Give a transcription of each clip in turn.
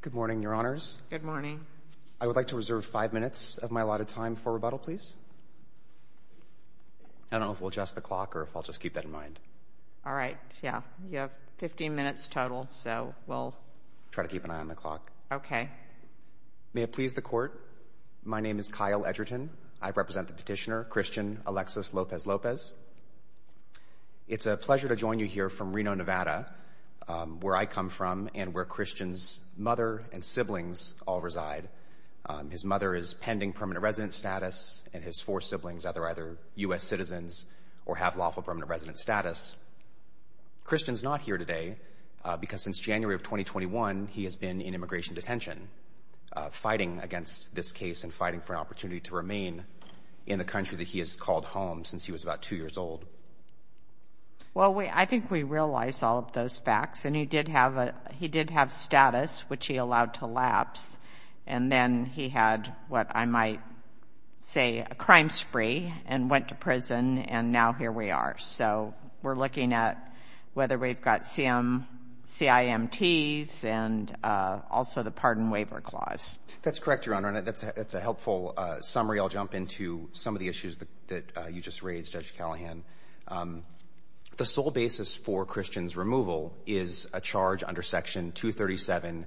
Good morning, Your Honors. Good morning. I would like to reserve five minutes of my allotted time for rebuttal, please. I don't know if we'll adjust the clock or if I'll just keep that in mind. All right. Yeah, you have 15 minutes total, so we'll try to keep an eye on the clock. Okay. May it please the Court, my name is Kyle Edgerton. I represent the petitioner, Christian Alexis Lopez-Lopez. It's a pleasure to join you here from Reno, Nevada, where I come from and where Christian's mother and siblings all reside. His mother is pending permanent resident status, and his four siblings either U.S. citizens or have lawful permanent resident status. Christian's not here today because since January of 2021, he has been in immigration detention, fighting against this case and fighting for an opportunity to remain in the country that he has called home since he was about two years old. Well, I think we realize all of those facts, and he did have status, which he allowed to lapse, and then he had what I might say a crime spree and went to prison, and now here we are. So we're looking at whether we've got CIMTs and also the Pardon Waiver Clause. That's correct, Your Honor, and that's a helpful summary. I'll jump into some of the issues that you just raised, Judge Callahan. The sole basis for Christian's removal is a charge under Section 237A2A,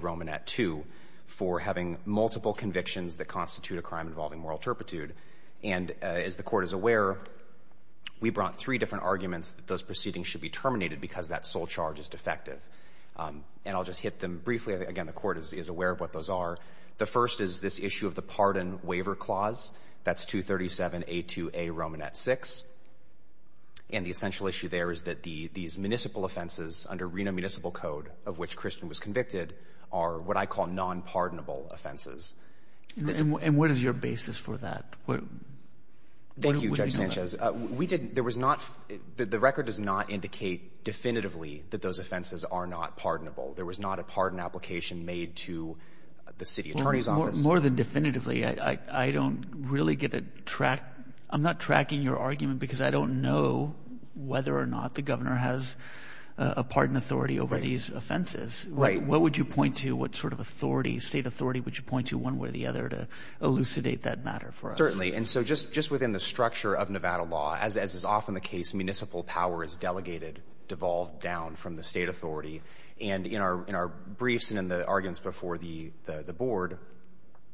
Romanat II, for having multiple convictions that constitute a crime involving moral turpitude. And as the Court is aware, we brought three different arguments that those proceedings should be terminated because that sole charge is defective. And I'll just hit them briefly. Again, the Court is aware of what those are. The first is this issue of the Pardon Waiver Clause. That's 237A2A, Romanat VI. And the essential issue there is that these municipal offenses under Reno Municipal Code, of which Christian was convicted, are what I call nonpardonable offenses. And what is your basis for that? Thank you, Judge Sanchez. We didn't – there was not – the record does not indicate definitively that those offenses are not pardonable. There was not a pardon application made to the city attorney's office. More than definitively, I don't really get a track – I'm not tracking your argument because I don't know whether or not the governor has a pardon authority over these offenses. Right. What would you point to? What sort of authority, state authority, would you point to one way or the other to elucidate that matter for us? Certainly. And so just within the structure of Nevada law, as is often the case, municipal power is delegated, devolved down from the state authority. And in our briefs and in the arguments before the board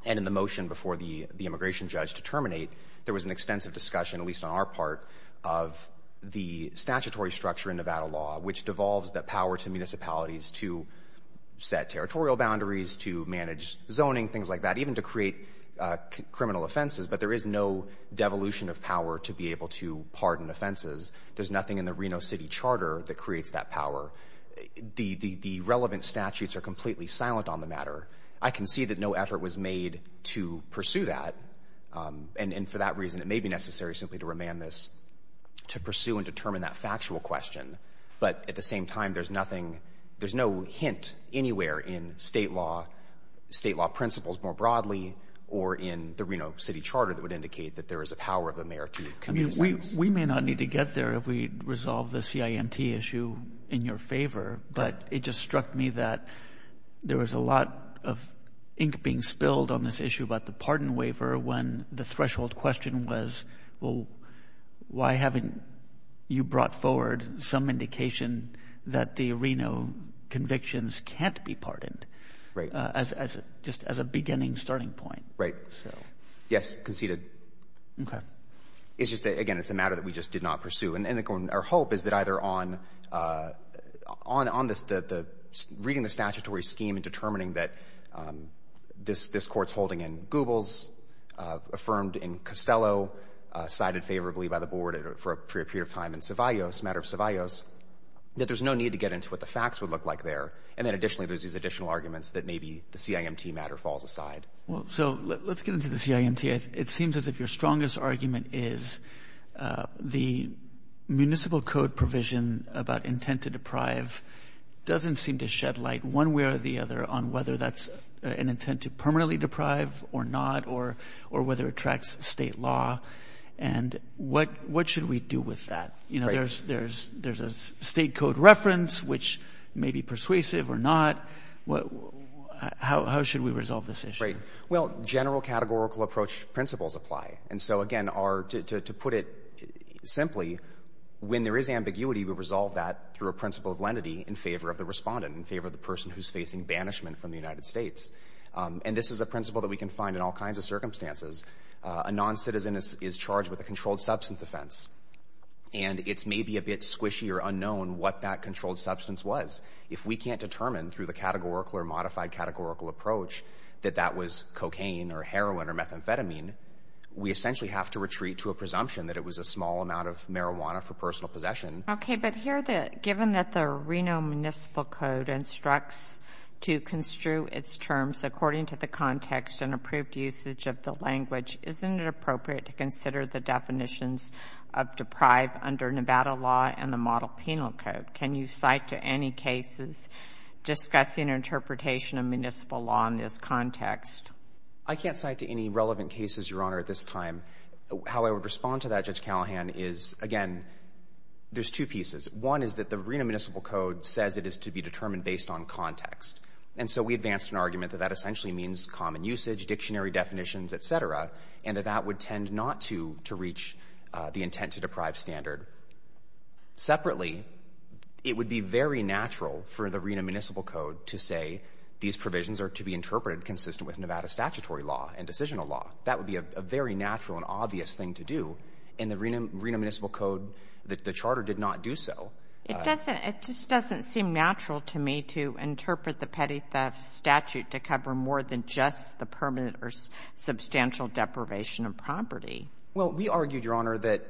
and in the motion before the immigration judge to terminate, there was an extensive discussion, at least on our part, of the statutory structure in Nevada law, which devolves the power to municipalities to set territorial boundaries, to manage zoning, things like that, even to create criminal offenses. But there is no devolution of power to be able to pardon offenses. There's nothing in the Reno City Charter that creates that power. The relevant statutes are completely silent on the matter. I can see that no effort was made to pursue that. And for that reason, it may be necessary simply to remand this to pursue and determine that factual question. But at the same time, there's nothing, there's no hint anywhere in state law principles more broadly or in the Reno City Charter that would indicate that there is a power of the mayor to municipalities. We may not need to get there if we resolve the CIMT issue in your favor, but it just struck me that there was a lot of ink being spilled on this issue about the pardon waiver when the threshold question was, well, why haven't you brought forward some indication that the Reno convictions can't be pardoned? Right. Just as a beginning starting point. Right. Yes, conceded. Okay. It's just that, again, it's a matter that we just did not pursue. And our hope is that either on this, reading the statutory scheme and determining that this court's holding in Goebbels, affirmed in Costello, cited favorably by the board for a period of time in Ceballos, matter of Ceballos, that there's no need to get into what the facts would look like there. And then additionally, there's these additional arguments that maybe the CIMT matter falls aside. So let's get into the CIMT. It seems as if your strongest argument is the municipal code provision about intent to deprive doesn't seem to shed light one way or the other on whether that's an intent to permanently deprive or not or whether it tracks state law. And what should we do with that? There's a state code reference, which may be persuasive or not. How should we resolve this issue? Well, general categorical approach principles apply. And so, again, to put it simply, when there is ambiguity, we resolve that through a principle of lenity in favor of the respondent, in favor of the person who's facing banishment from the United States. And this is a principle that we can find in all kinds of circumstances. A noncitizen is charged with a controlled substance offense. And it's maybe a bit squishy or unknown what that controlled substance was. If we can't determine through the categorical or modified categorical approach that that was cocaine or heroin or methamphetamine, we essentially have to retreat to a presumption that it was a small amount of marijuana for personal possession. Okay. But here, given that the Reno Municipal Code instructs to construe its terms according to the context and approved usage of the language, isn't it appropriate to consider the definitions of deprive under Nevada law and the Model Penal Code? Can you cite to any cases discussing interpretation of municipal law in this context? I can't cite to any relevant cases, Your Honor, at this time. How I would respond to that, Judge Callahan, is, again, there's two pieces. One is that the Reno Municipal Code says it is to be determined based on context. And so we advanced an argument that that essentially means common usage, dictionary definitions, et cetera, and that that would tend not to reach the intent to deprive standard. Separately, it would be very natural for the Reno Municipal Code to say these provisions are to be interpreted consistent with Nevada statutory law and decisional law. That would be a very natural and obvious thing to do. In the Reno Municipal Code, the charter did not do so. It doesn't seem natural to me to interpret the petty theft statute to cover more than just the permanent or substantial deprivation of property. Well, we argued, Your Honor, that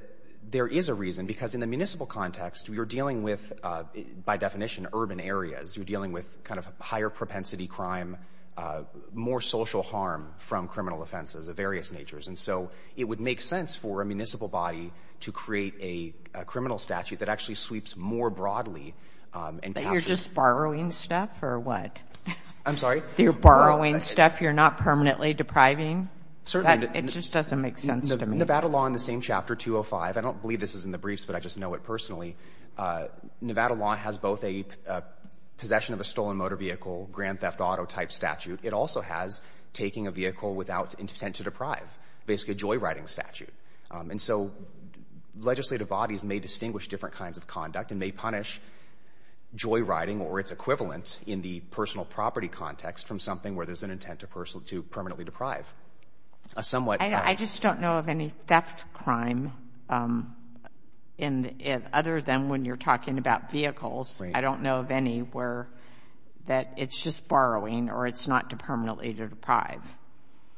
there is a reason. Because in the municipal context, we are dealing with, by definition, urban areas. You're dealing with kind of higher propensity crime, more social harm from criminal offenses of various natures. And so it would make sense for a municipal body to create a criminal statute that actually sweeps more broadly. But you're just borrowing stuff or what? I'm sorry? You're borrowing stuff you're not permanently depriving? Certainly. It just doesn't make sense to me. Nevada law in the same chapter, 205, I don't believe this is in the briefs, but I just know it personally. Nevada law has both a possession of a stolen motor vehicle, grand theft auto type statute. It also has taking a vehicle without intent to deprive, basically a joyriding statute. And so legislative bodies may distinguish different kinds of conduct and may punish joyriding or its equivalent in the personal property context from something where there's an intent to permanently deprive. I just don't know of any theft crime other than when you're talking about vehicles. I don't know of any where that it's just borrowing or it's not permanently to deprive.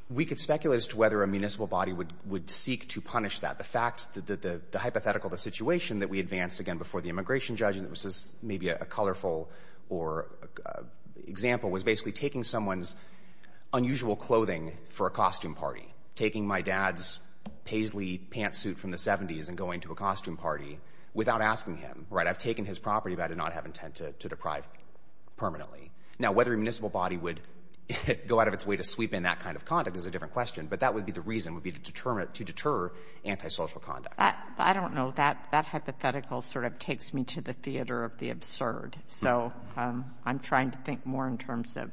We could speculate as to whether a municipal body would seek to punish that. The fact that the hypothetical, the situation that we advanced, again, before the immigration judge, and this is maybe a colorful example, was basically taking someone's unusual clothing for a costume party, taking my dad's paisley pantsuit from the 70s and going to a costume party without asking him. I've taken his property, but I did not have intent to deprive permanently. Now, whether a municipal body would go out of its way to sweep in that kind of conduct is a different question, but that would be the reason, would be to deter antisocial conduct. I don't know. That hypothetical sort of takes me to the theater of the absurd, so I'm trying to think more in terms of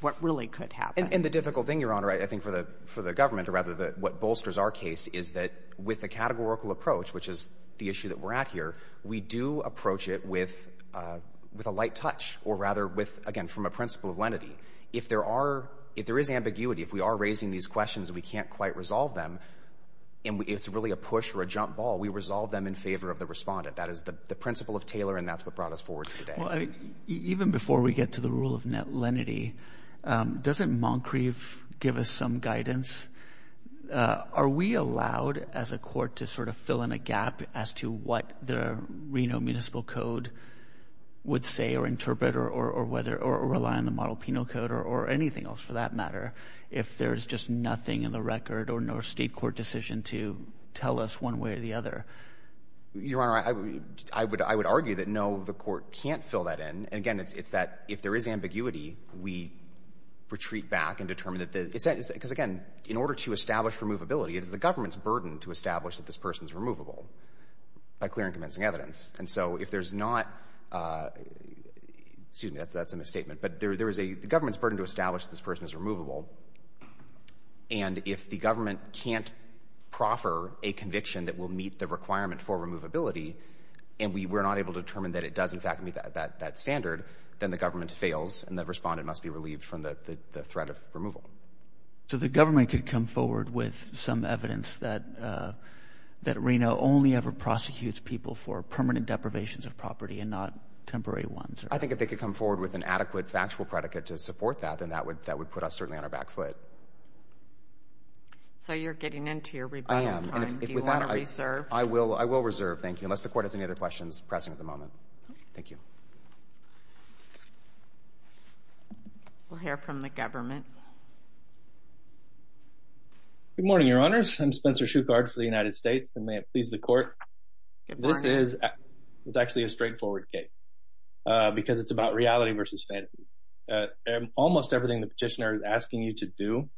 what really could happen. And the difficult thing, Your Honor, I think for the government or rather what bolsters our case is that with the categorical approach, which is the issue that we're at here, we do approach it with a light touch or rather with, again, from a principle of lenity. If there is ambiguity, if we are raising these questions and we can't quite resolve them and it's really a push or a jump ball, we resolve them in favor of the respondent. That is the principle of Taylor, and that's what brought us forward today. Even before we get to the rule of net lenity, doesn't Moncrief give us some guidance? Are we allowed as a court to sort of fill in a gap as to what the Reno Municipal Code would say or interpret or rely on the Model Penal Code or anything else for that matter if there's just nothing in the record or no state court decision to tell us one way or the other? Your Honor, I would argue that, no, the court can't fill that in. And, again, it's that if there is ambiguity, we retreat back and determine that the— because, again, in order to establish removability, it is the government's burden to establish that this person is removable by clear and convincing evidence. And so if there's not—excuse me, that's a misstatement. But there is a—the government's burden to establish this person is removable. And if the government can't proffer a conviction that will meet the requirement for removability and we're not able to determine that it does, in fact, meet that standard, then the government fails and the respondent must be relieved from the threat of removal. So the government could come forward with some evidence that Reno only ever prosecutes people for permanent deprivations of property and not temporary ones? I think if they could come forward with an adequate factual predicate to support that, then that would put us certainly on our back foot. So you're getting into your rebuttal time. I am. Do you want to reserve? I will reserve, thank you, unless the court has any other questions present at the moment. Thank you. We'll hear from the government. Good morning, Your Honors. I'm Spencer Shuchard for the United States, and may it please the court. Good morning. This is actually a straightforward case because it's about reality versus fantasy. Almost everything the petitioner is asking you to do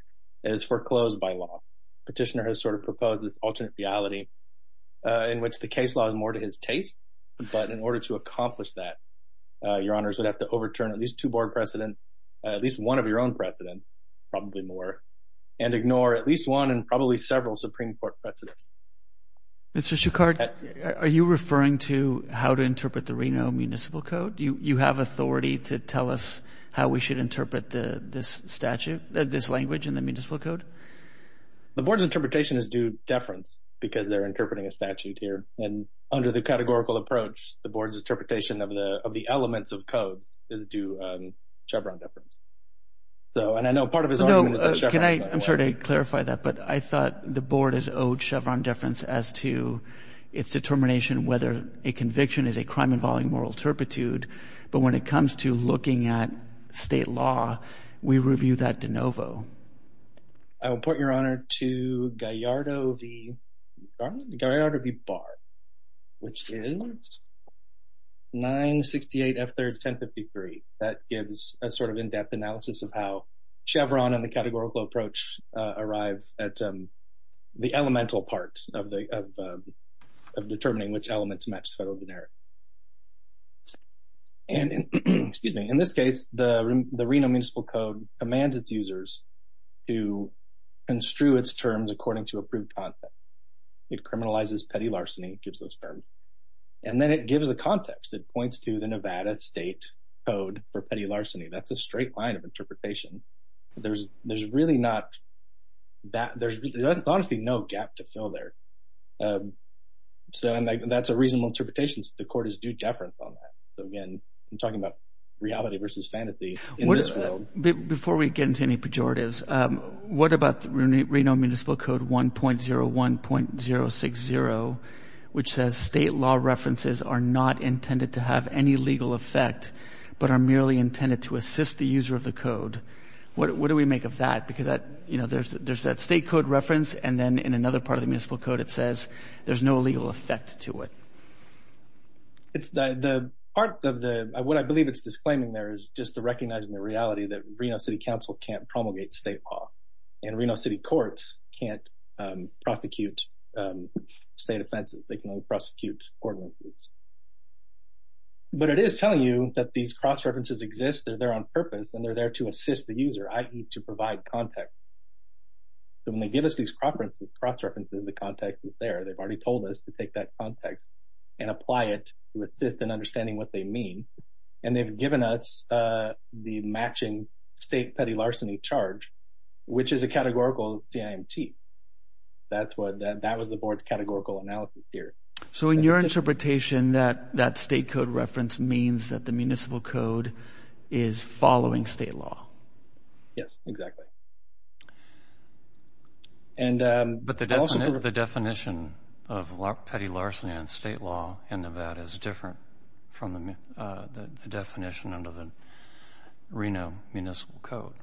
is foreclosed by law. The petitioner has sort of proposed this alternate reality in which the case law is more to his taste, but in order to accomplish that, Your Honors, we'd have to overturn at least two board precedents, at least one of your own precedents, probably more, and ignore at least one and probably several Supreme Court precedents. Mr. Shuchard, are you referring to how to interpret the Reno Municipal Code? Do you have authority to tell us how we should interpret this statute, this language in the Municipal Code? The board's interpretation is due deference because they're interpreting a statute here, and under the categorical approach, the board's interpretation of the elements of codes is due Chevron deference. I'm sorry to clarify that, but I thought the board is owed Chevron deference as to its determination whether a conviction is a crime involving moral turpitude, but when it comes to looking at state law, we review that de novo. I will put, Your Honor, to Gallardo v. Bard, which is 968 F. 3rd, 1053. That gives a sort of in-depth analysis of how Chevron and the categorical approach arrive at the elemental part of determining which elements match federal generic. In this case, the Reno Municipal Code commands its users to construe its terms according to approved content. It criminalizes petty larceny, it gives those terms, and then it gives the context. It points to the Nevada State Code for petty larceny. That's a straight line of interpretation. There's really not that. There's honestly no gap to fill there, and that's a reasonable interpretation. The court is due deference on that. Again, I'm talking about reality versus fantasy in this world. Before we get into any pejoratives, what about Reno Municipal Code 1.01.060, which says state law references are not intended to have any legal effect but are merely intended to assist the user of the code? What do we make of that? Because there's that state code reference, and then in another part of the municipal code, it says there's no legal effect to it. What I believe it's disclaiming there is just recognizing the reality that Reno City Council can't promulgate state law, and Reno City Courts can't prosecute state offenses. They can only prosecute court-ordered offenses. But it is telling you that these cross-references exist. They're there on purpose, and they're there to assist the user, i.e., to provide context. So when they give us these cross-references, the context is there. They've already told us to take that context and apply it to assist in understanding what they mean, and they've given us the matching state petty larceny charge, which is a categorical CIMT. That was the board's categorical analysis here. So in your interpretation, that state code reference means that the municipal code is following state law? Yes, exactly. But the definition of petty larceny under state law in Nevada is different from the definition under the Reno Municipal Code.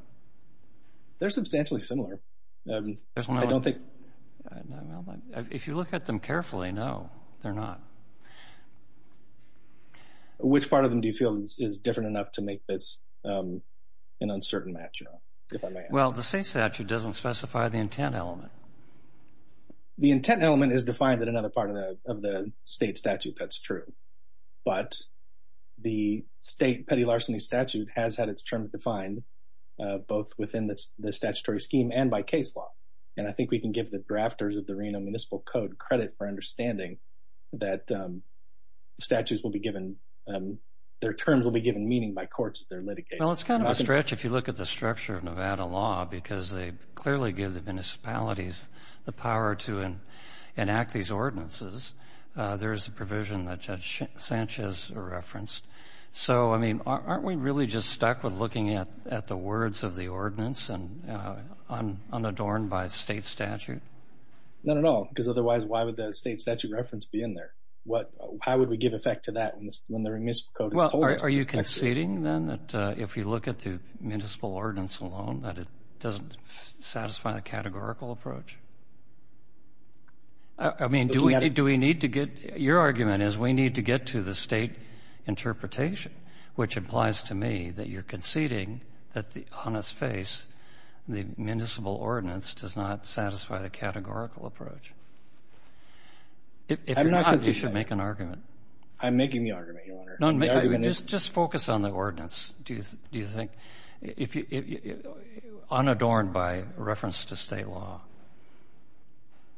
They're substantially similar. If you look at them carefully, no, they're not. Which part of them do you feel is different enough to make this an uncertain match? Well, the state statute doesn't specify the intent element. The intent element is defined in another part of the state statute, that's true. But the state petty larceny statute has had its terms defined both within the statutory scheme and by case law. And I think we can give the drafters of the Reno Municipal Code credit for understanding that their terms will be given meaning by courts in their litigation. Well, it's kind of a stretch if you look at the structure of Nevada law, because they clearly give the municipalities the power to enact these ordinances. There is a provision that Judge Sanchez referenced. So, I mean, aren't we really just stuck with looking at the words of the ordinance unadorned by state statute? Not at all, because otherwise why would the state statute reference be in there? How would we give effect to that when the Reno Municipal Code is told us to? Are you conceding, then, that if you look at the municipal ordinance alone, that it doesn't satisfy the categorical approach? I mean, do we need to get – your argument is we need to get to the state interpretation, which implies to me that you're conceding that on its face the municipal ordinance does not satisfy the categorical approach. I'm not conceding. You should make an argument. I'm making the argument, Your Honor. Just focus on the ordinance, do you think, unadorned by reference to state law.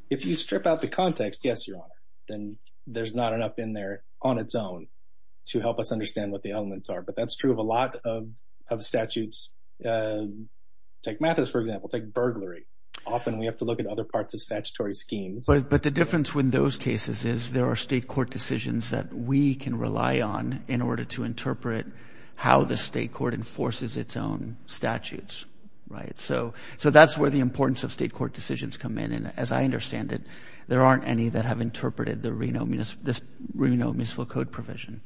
If you strip out the context, yes, Your Honor, then there's not enough in there on its own to help us understand what the elements are. But that's true of a lot of statutes. Take Mathis, for example. Take burglary. Often we have to look at other parts of statutory schemes. But the difference with those cases is there are state court decisions that we can rely on in order to interpret how the state court enforces its own statutes, right? So that's where the importance of state court decisions come in. And as I understand it, there aren't any that have interpreted the Reno Municipal Code provision.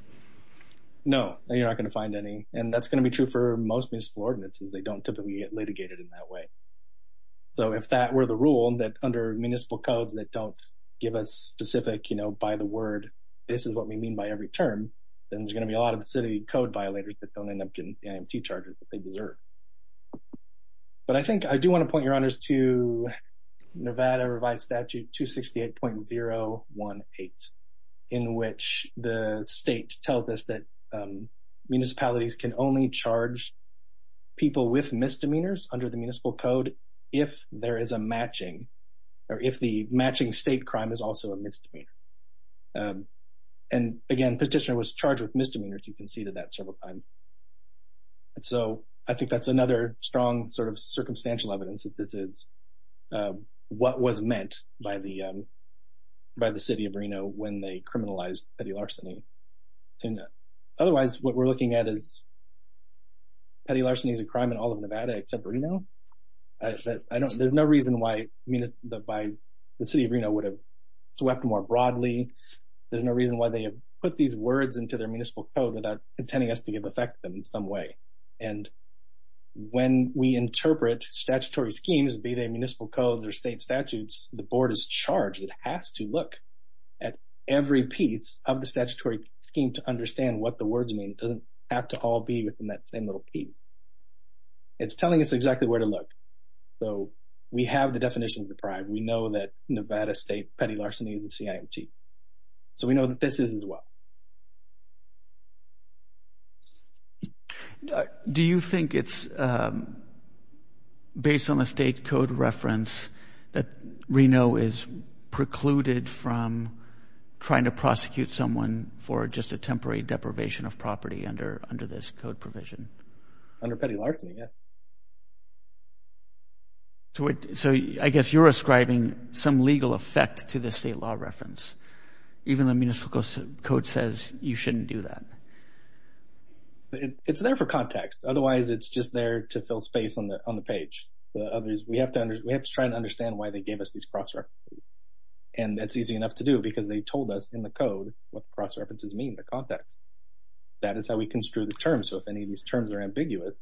No, you're not going to find any. And that's going to be true for most municipal ordinances. They don't typically get litigated in that way. So if that were the rule, that under municipal codes that don't give us specific, you know, by the word, this is what we mean by every term, then there's going to be a lot of city code violators that don't end up getting the IMT charges that they deserve. But I think I do want to point your honors to Nevada Revised Statute 268.018 in which the state tells us that municipalities can only charge people with misdemeanors under the municipal code if there is a matching or if the matching state crime is also a misdemeanor. And again, petitioner was charged with misdemeanors. You can see that several times. So I think that's another strong sort of circumstantial evidence that this is what was meant by the by the city of Reno when they criminalized petty larceny. Otherwise, what we're looking at is petty larceny is a crime in all of Nevada except Reno. There's no reason why by the city of Reno would have swept more broadly. There's no reason why they put these words into their municipal code without intending us to give effect in some way. And when we interpret statutory schemes, be they municipal codes or state statutes, the board is charged. It has to look at every piece of the statutory scheme to understand what the words mean. It doesn't have to all be within that same little piece. It's telling us exactly where to look. So we have the definition of the crime. We know that Nevada state petty larceny is a CIMT. So we know that this is as well. Do you think it's based on the state code reference that Reno is precluded from trying to prosecute someone for just a temporary deprivation of property under this code provision? Under petty larceny, yes. So I guess you're ascribing some legal effect to the state law reference. Even the municipal code says you shouldn't do that. It's there for context. Otherwise, it's just there to fill space on the page. We have to try and understand why they gave us these cross-references. And that's easy enough to do because they told us in the code what cross-references mean, the context. That is how we construe the terms. So if any of these terms are ambiguous,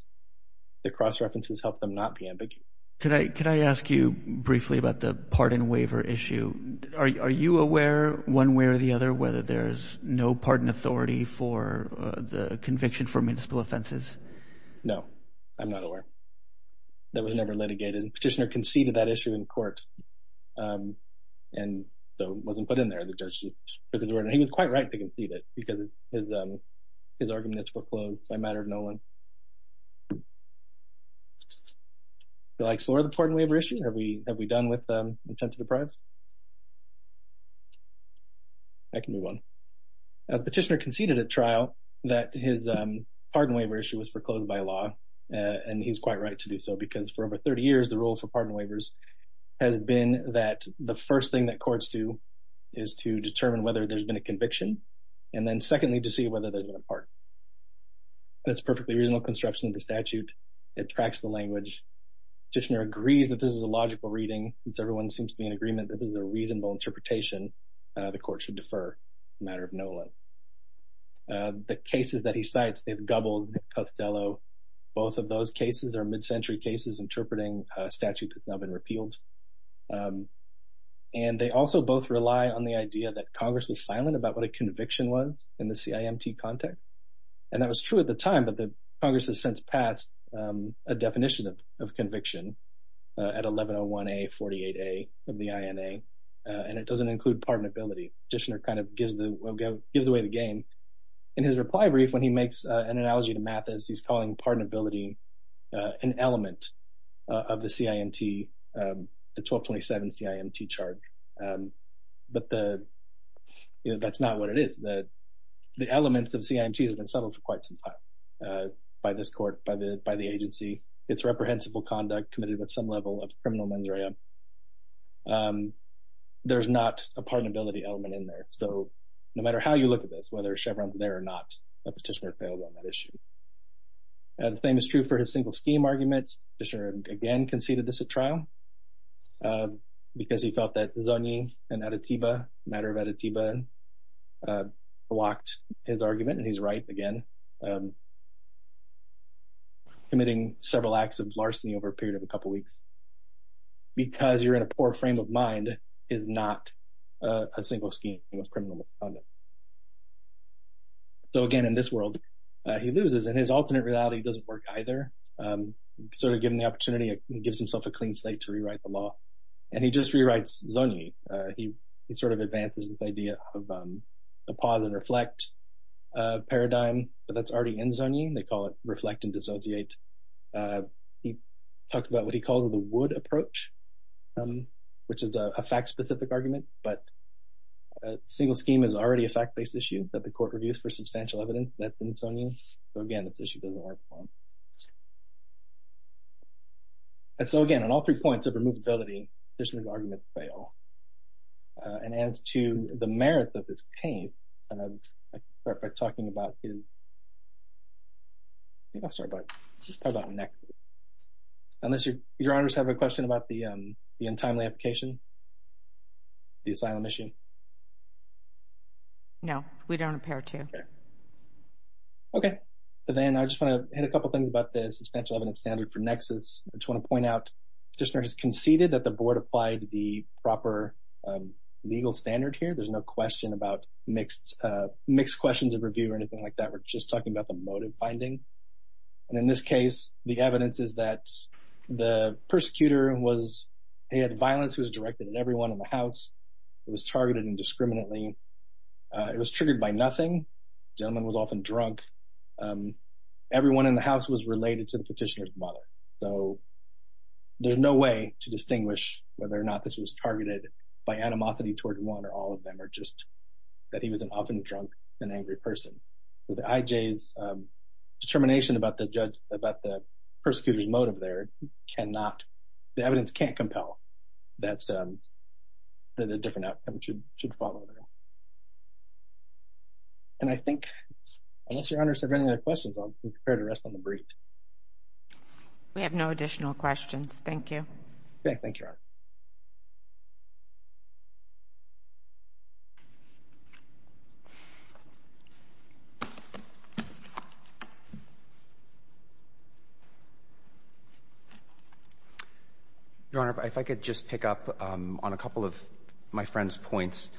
the cross-references help them not be ambiguous. Could I ask you briefly about the pardon waiver issue? Are you aware, one way or the other, whether there's no pardon authority for the conviction for municipal offenses? No, I'm not aware. That was never litigated. The petitioner conceded that issue in court and so it wasn't put in there. He was quite right to concede it because his argument is foreclosed by a matter of no one. Would you like to explore the pardon waiver issue? Have we done with intent to deprive? I can move on. The petitioner conceded at trial that his pardon waiver issue was foreclosed by law, and he's quite right to do so because for over 30 years, the rule for pardon waivers has been that the first thing that courts do is to determine whether there's been a conviction and then, secondly, to see whether there's been a pardon. That's a perfectly reasonable construction of the statute. It tracks the language. The petitioner agrees that this is a logical reading. Since everyone seems to be in agreement that this is a reasonable interpretation, the court should defer a matter of no one. The cases that he cites, they've gobbled Costello. Both of those cases are mid-century cases interpreting a statute that's now been repealed. And they also both rely on the idea that Congress was silent about what a conviction was in the CIMT context. And that was true at the time, but Congress has since passed a definition of conviction at 1101A, 48A of the INA, and it doesn't include pardonability. The petitioner kind of gives away the game. In his reply brief, when he makes an analogy to Mathis, he's calling pardonability an element of the CIMT, the 1227 CIMT chart. But that's not what it is. The elements of CIMT have been settled for quite some time by this court, by the agency. It's reprehensible conduct committed with some level of criminal mens rea. There's not a pardonability element in there. So no matter how you look at this, whether Chevron's there or not, the petitioner failed on that issue. The same is true for his single scheme argument. The petitioner again conceded this at trial because he felt that Zogny and Adetiba, the matter of Adetiba, blocked his argument, and he's right again, committing several acts of larceny over a period of a couple weeks, because you're in a poor frame of mind is not a single scheme of criminal misconduct. So again, in this world, he loses, and his alternate reality doesn't work either. So to give him the opportunity, he gives himself a clean slate to rewrite the law, and he just rewrites Zogny. He sort of advances this idea of a pause and reflect paradigm, but that's already in Zogny. They call it reflect and dissociate. He talked about what he called the wood approach, which is a fact-specific argument, but a single scheme is already a fact-based issue that the court reviews for substantial evidence that's in Zogny. So again, this issue doesn't work for him. And so again, on all three points of removability, the petitioner's argument failed. And as to the merits of this case, I'm going to start by talking about his – I think I'll start by talking about Nexus. Unless your honors have a question about the untimely application, the asylum issue? No, we don't appear to. Okay. So then I just want to hit a couple things about the substantial evidence standard for Nexus. I just want to point out the petitioner has conceded that the board applied the proper legal standard here. There's no question about mixed questions of review or anything like that. We're just talking about the motive finding. And in this case, the evidence is that the persecutor was – he had violence. It was directed at everyone in the house. It was targeted indiscriminately. It was triggered by nothing. The gentleman was often drunk. Everyone in the house was related to the petitioner's mother. So there's no way to distinguish whether or not this was targeted by animosity toward one or all of them or just that he was an often drunk and angry person. The IJ's determination about the persecutor's motive there cannot – the evidence can't compel that a different outcome should follow there. And I think, unless Your Honor has any other questions, I'll be prepared to rest on the brief. We have no additional questions. Thank you. Thank you, Your Honor. Your Honor, if I could just pick up on a couple of my friend's points.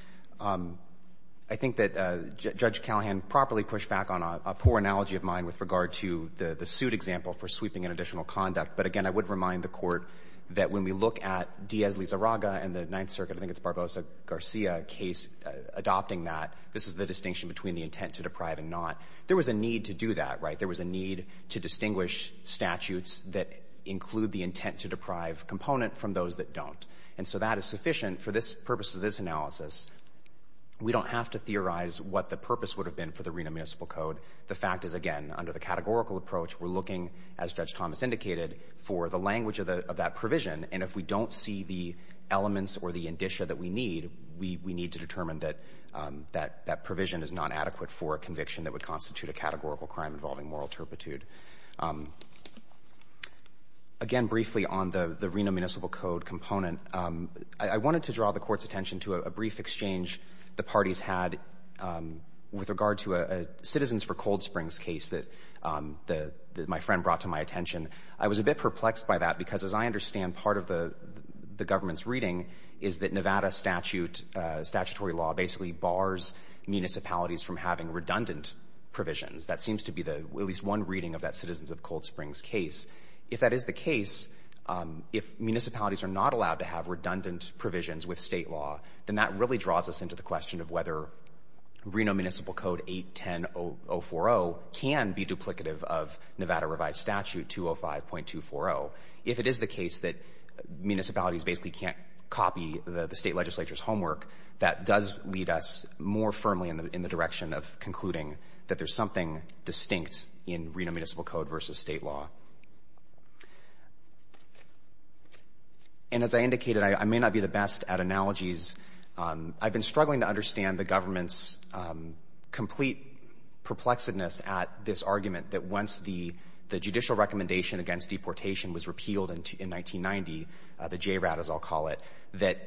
I think that Judge Callahan properly pushed back on a poor analogy of mine with regard to the suit example for sweeping and additional conduct. But again, I would remind the Court that when we look at Diaz-Lizarraga and the Ninth Circuit, I think it's Barbosa-Garcia case, adopting that, this is the distinction between the intent to deprive and not. There was a need to do that, right? There was a need to distinguish statutes that include the intent to deprive component from those that don't. And so that is sufficient for this purpose of this analysis. We don't have to theorize what the purpose would have been for the Reno Municipal Code. The fact is, again, under the categorical approach, we're looking, as Judge Thomas indicated, for the language of that provision. And if we don't see the elements or the indicia that we need, we need to determine that that provision is not adequate for a conviction that would constitute a categorical crime involving moral turpitude. Again, briefly on the Reno Municipal Code component, I wanted to draw the Court's attention to a brief exchange the parties had with regard to a Citizens for Cold Springs case that my friend brought to my attention. I was a bit perplexed by that because, as I understand, part of the government's reading is that Nevada statutory law basically bars municipalities from having redundant provisions. That seems to be at least one reading of that Citizens of Cold Springs case. If that is the case, if municipalities are not allowed to have redundant provisions with state law, then that really draws us into the question of whether Reno Municipal Code 810.040 can be duplicative of Nevada Revised Statute 205.240. If it is the case that municipalities basically can't copy the state legislature's homework, that does lead us more firmly in the direction of concluding that there's something distinct in Reno Municipal Code versus state law. And as I indicated, I may not be the best at analogies. I've been struggling to understand the government's complete perplexedness at this argument that once the judicial recommendation against deportation was repealed in 1990, the JRAD, as I'll call it, that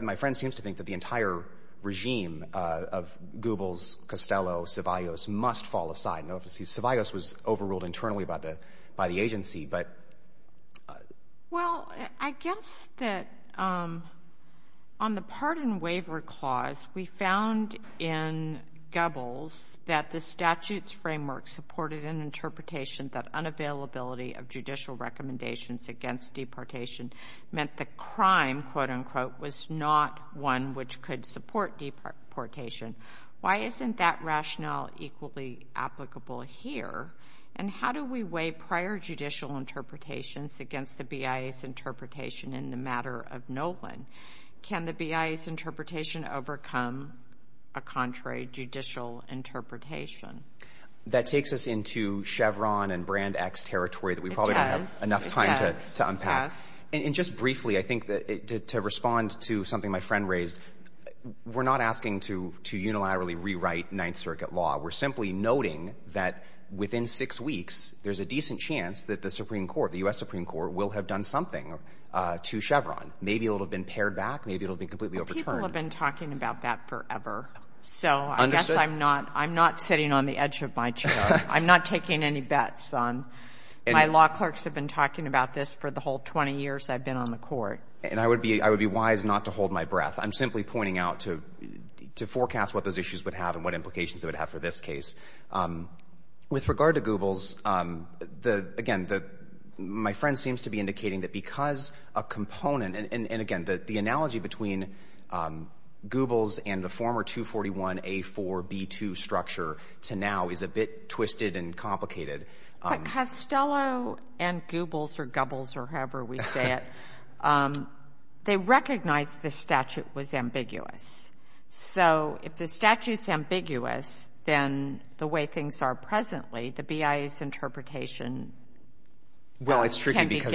my friend seems to think that the entire regime of Goebbels, Costello, Ceballos must fall aside. I don't know if Ceballos was overruled internally by the agency. Well, I guess that on the pardon waiver clause, we found in Goebbels that the statute's framework supported an interpretation that unavailability of judicial recommendations against deportation meant the crime, quote, unquote, was not one which could support deportation. Why isn't that rationale equally applicable here? And how do we weigh prior judicial interpretations against the BIA's interpretation in the matter of Nolan? Can the BIA's interpretation overcome a contrary judicial interpretation? That takes us into Chevron and Brand X territory that we probably don't have enough time to unpack. It does. It does. We're not asking to unilaterally rewrite Ninth Circuit law. We're simply noting that within six weeks, there's a decent chance that the Supreme Court, the U.S. Supreme Court, will have done something to Chevron. Maybe it'll have been pared back. Maybe it'll have been completely overturned. Well, people have been talking about that forever. So I guess I'm not sitting on the edge of my chair. I'm not taking any bets. My law clerks have been talking about this for the whole 20 years I've been on the court. And I would be wise not to hold my breath. I'm simply pointing out to forecast what those issues would have and what implications it would have for this case. With regard to Goobles, again, my friend seems to be indicating that because a component, and again, the analogy between Goobles and the former 241A4B2 structure to now is a bit twisted and complicated. But Costello and Goobles or Gobbles or however we say it, they recognized the statute was ambiguous. So if the statute's ambiguous, then the way things are presently, the BIA's interpretation can be given deference. Well, it's tricky because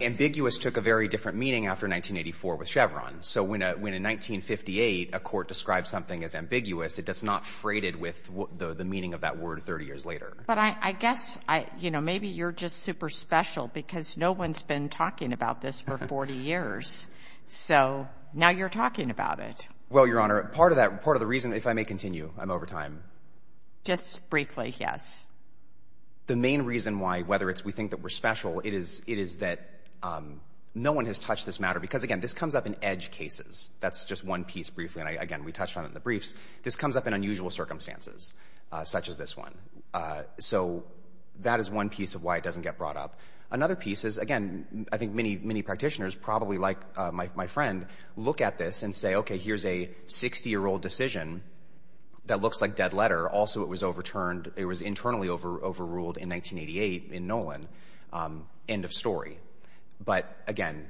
ambiguous took a very different meaning after 1984 with Chevron. So when in 1958 a court described something as ambiguous, it does not freight it with the meaning of that word 30 years later. But I guess, you know, maybe you're just super special because no one's been talking about this for 40 years. So now you're talking about it. Well, Your Honor, part of that, part of the reason, if I may continue, I'm over time. Just briefly, yes. The main reason why, whether it's we think that we're special, it is that no one has touched this matter. Because, again, this comes up in edge cases. That's just one piece briefly, and again, we touched on it in the briefs. This comes up in unusual circumstances, such as this one. So that is one piece of why it doesn't get brought up. Another piece is, again, I think many practitioners, probably like my friend, look at this and say, okay, here's a 60-year-old decision that looks like dead letter. Also, it was overturned. It was internally overruled in 1988 in Nolan. End of story. But, again,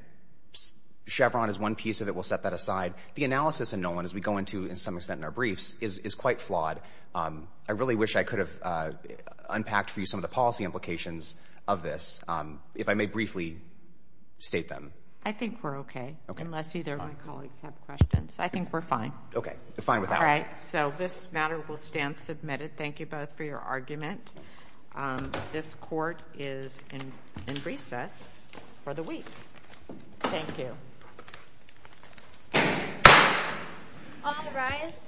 Chevron is one piece of it. We'll set that aside. The analysis in Nolan, as we go into, to some extent, in our briefs, is quite flawed. I really wish I could have unpacked for you some of the policy implications of this. If I may briefly state them. I think we're okay. Okay. Unless either of my colleagues have questions. I think we're fine. Okay. We're fine with that one. All right. So this matter will stand submitted. Thank you both for your argument. This Court is in recess for the week. Thank you. All rise.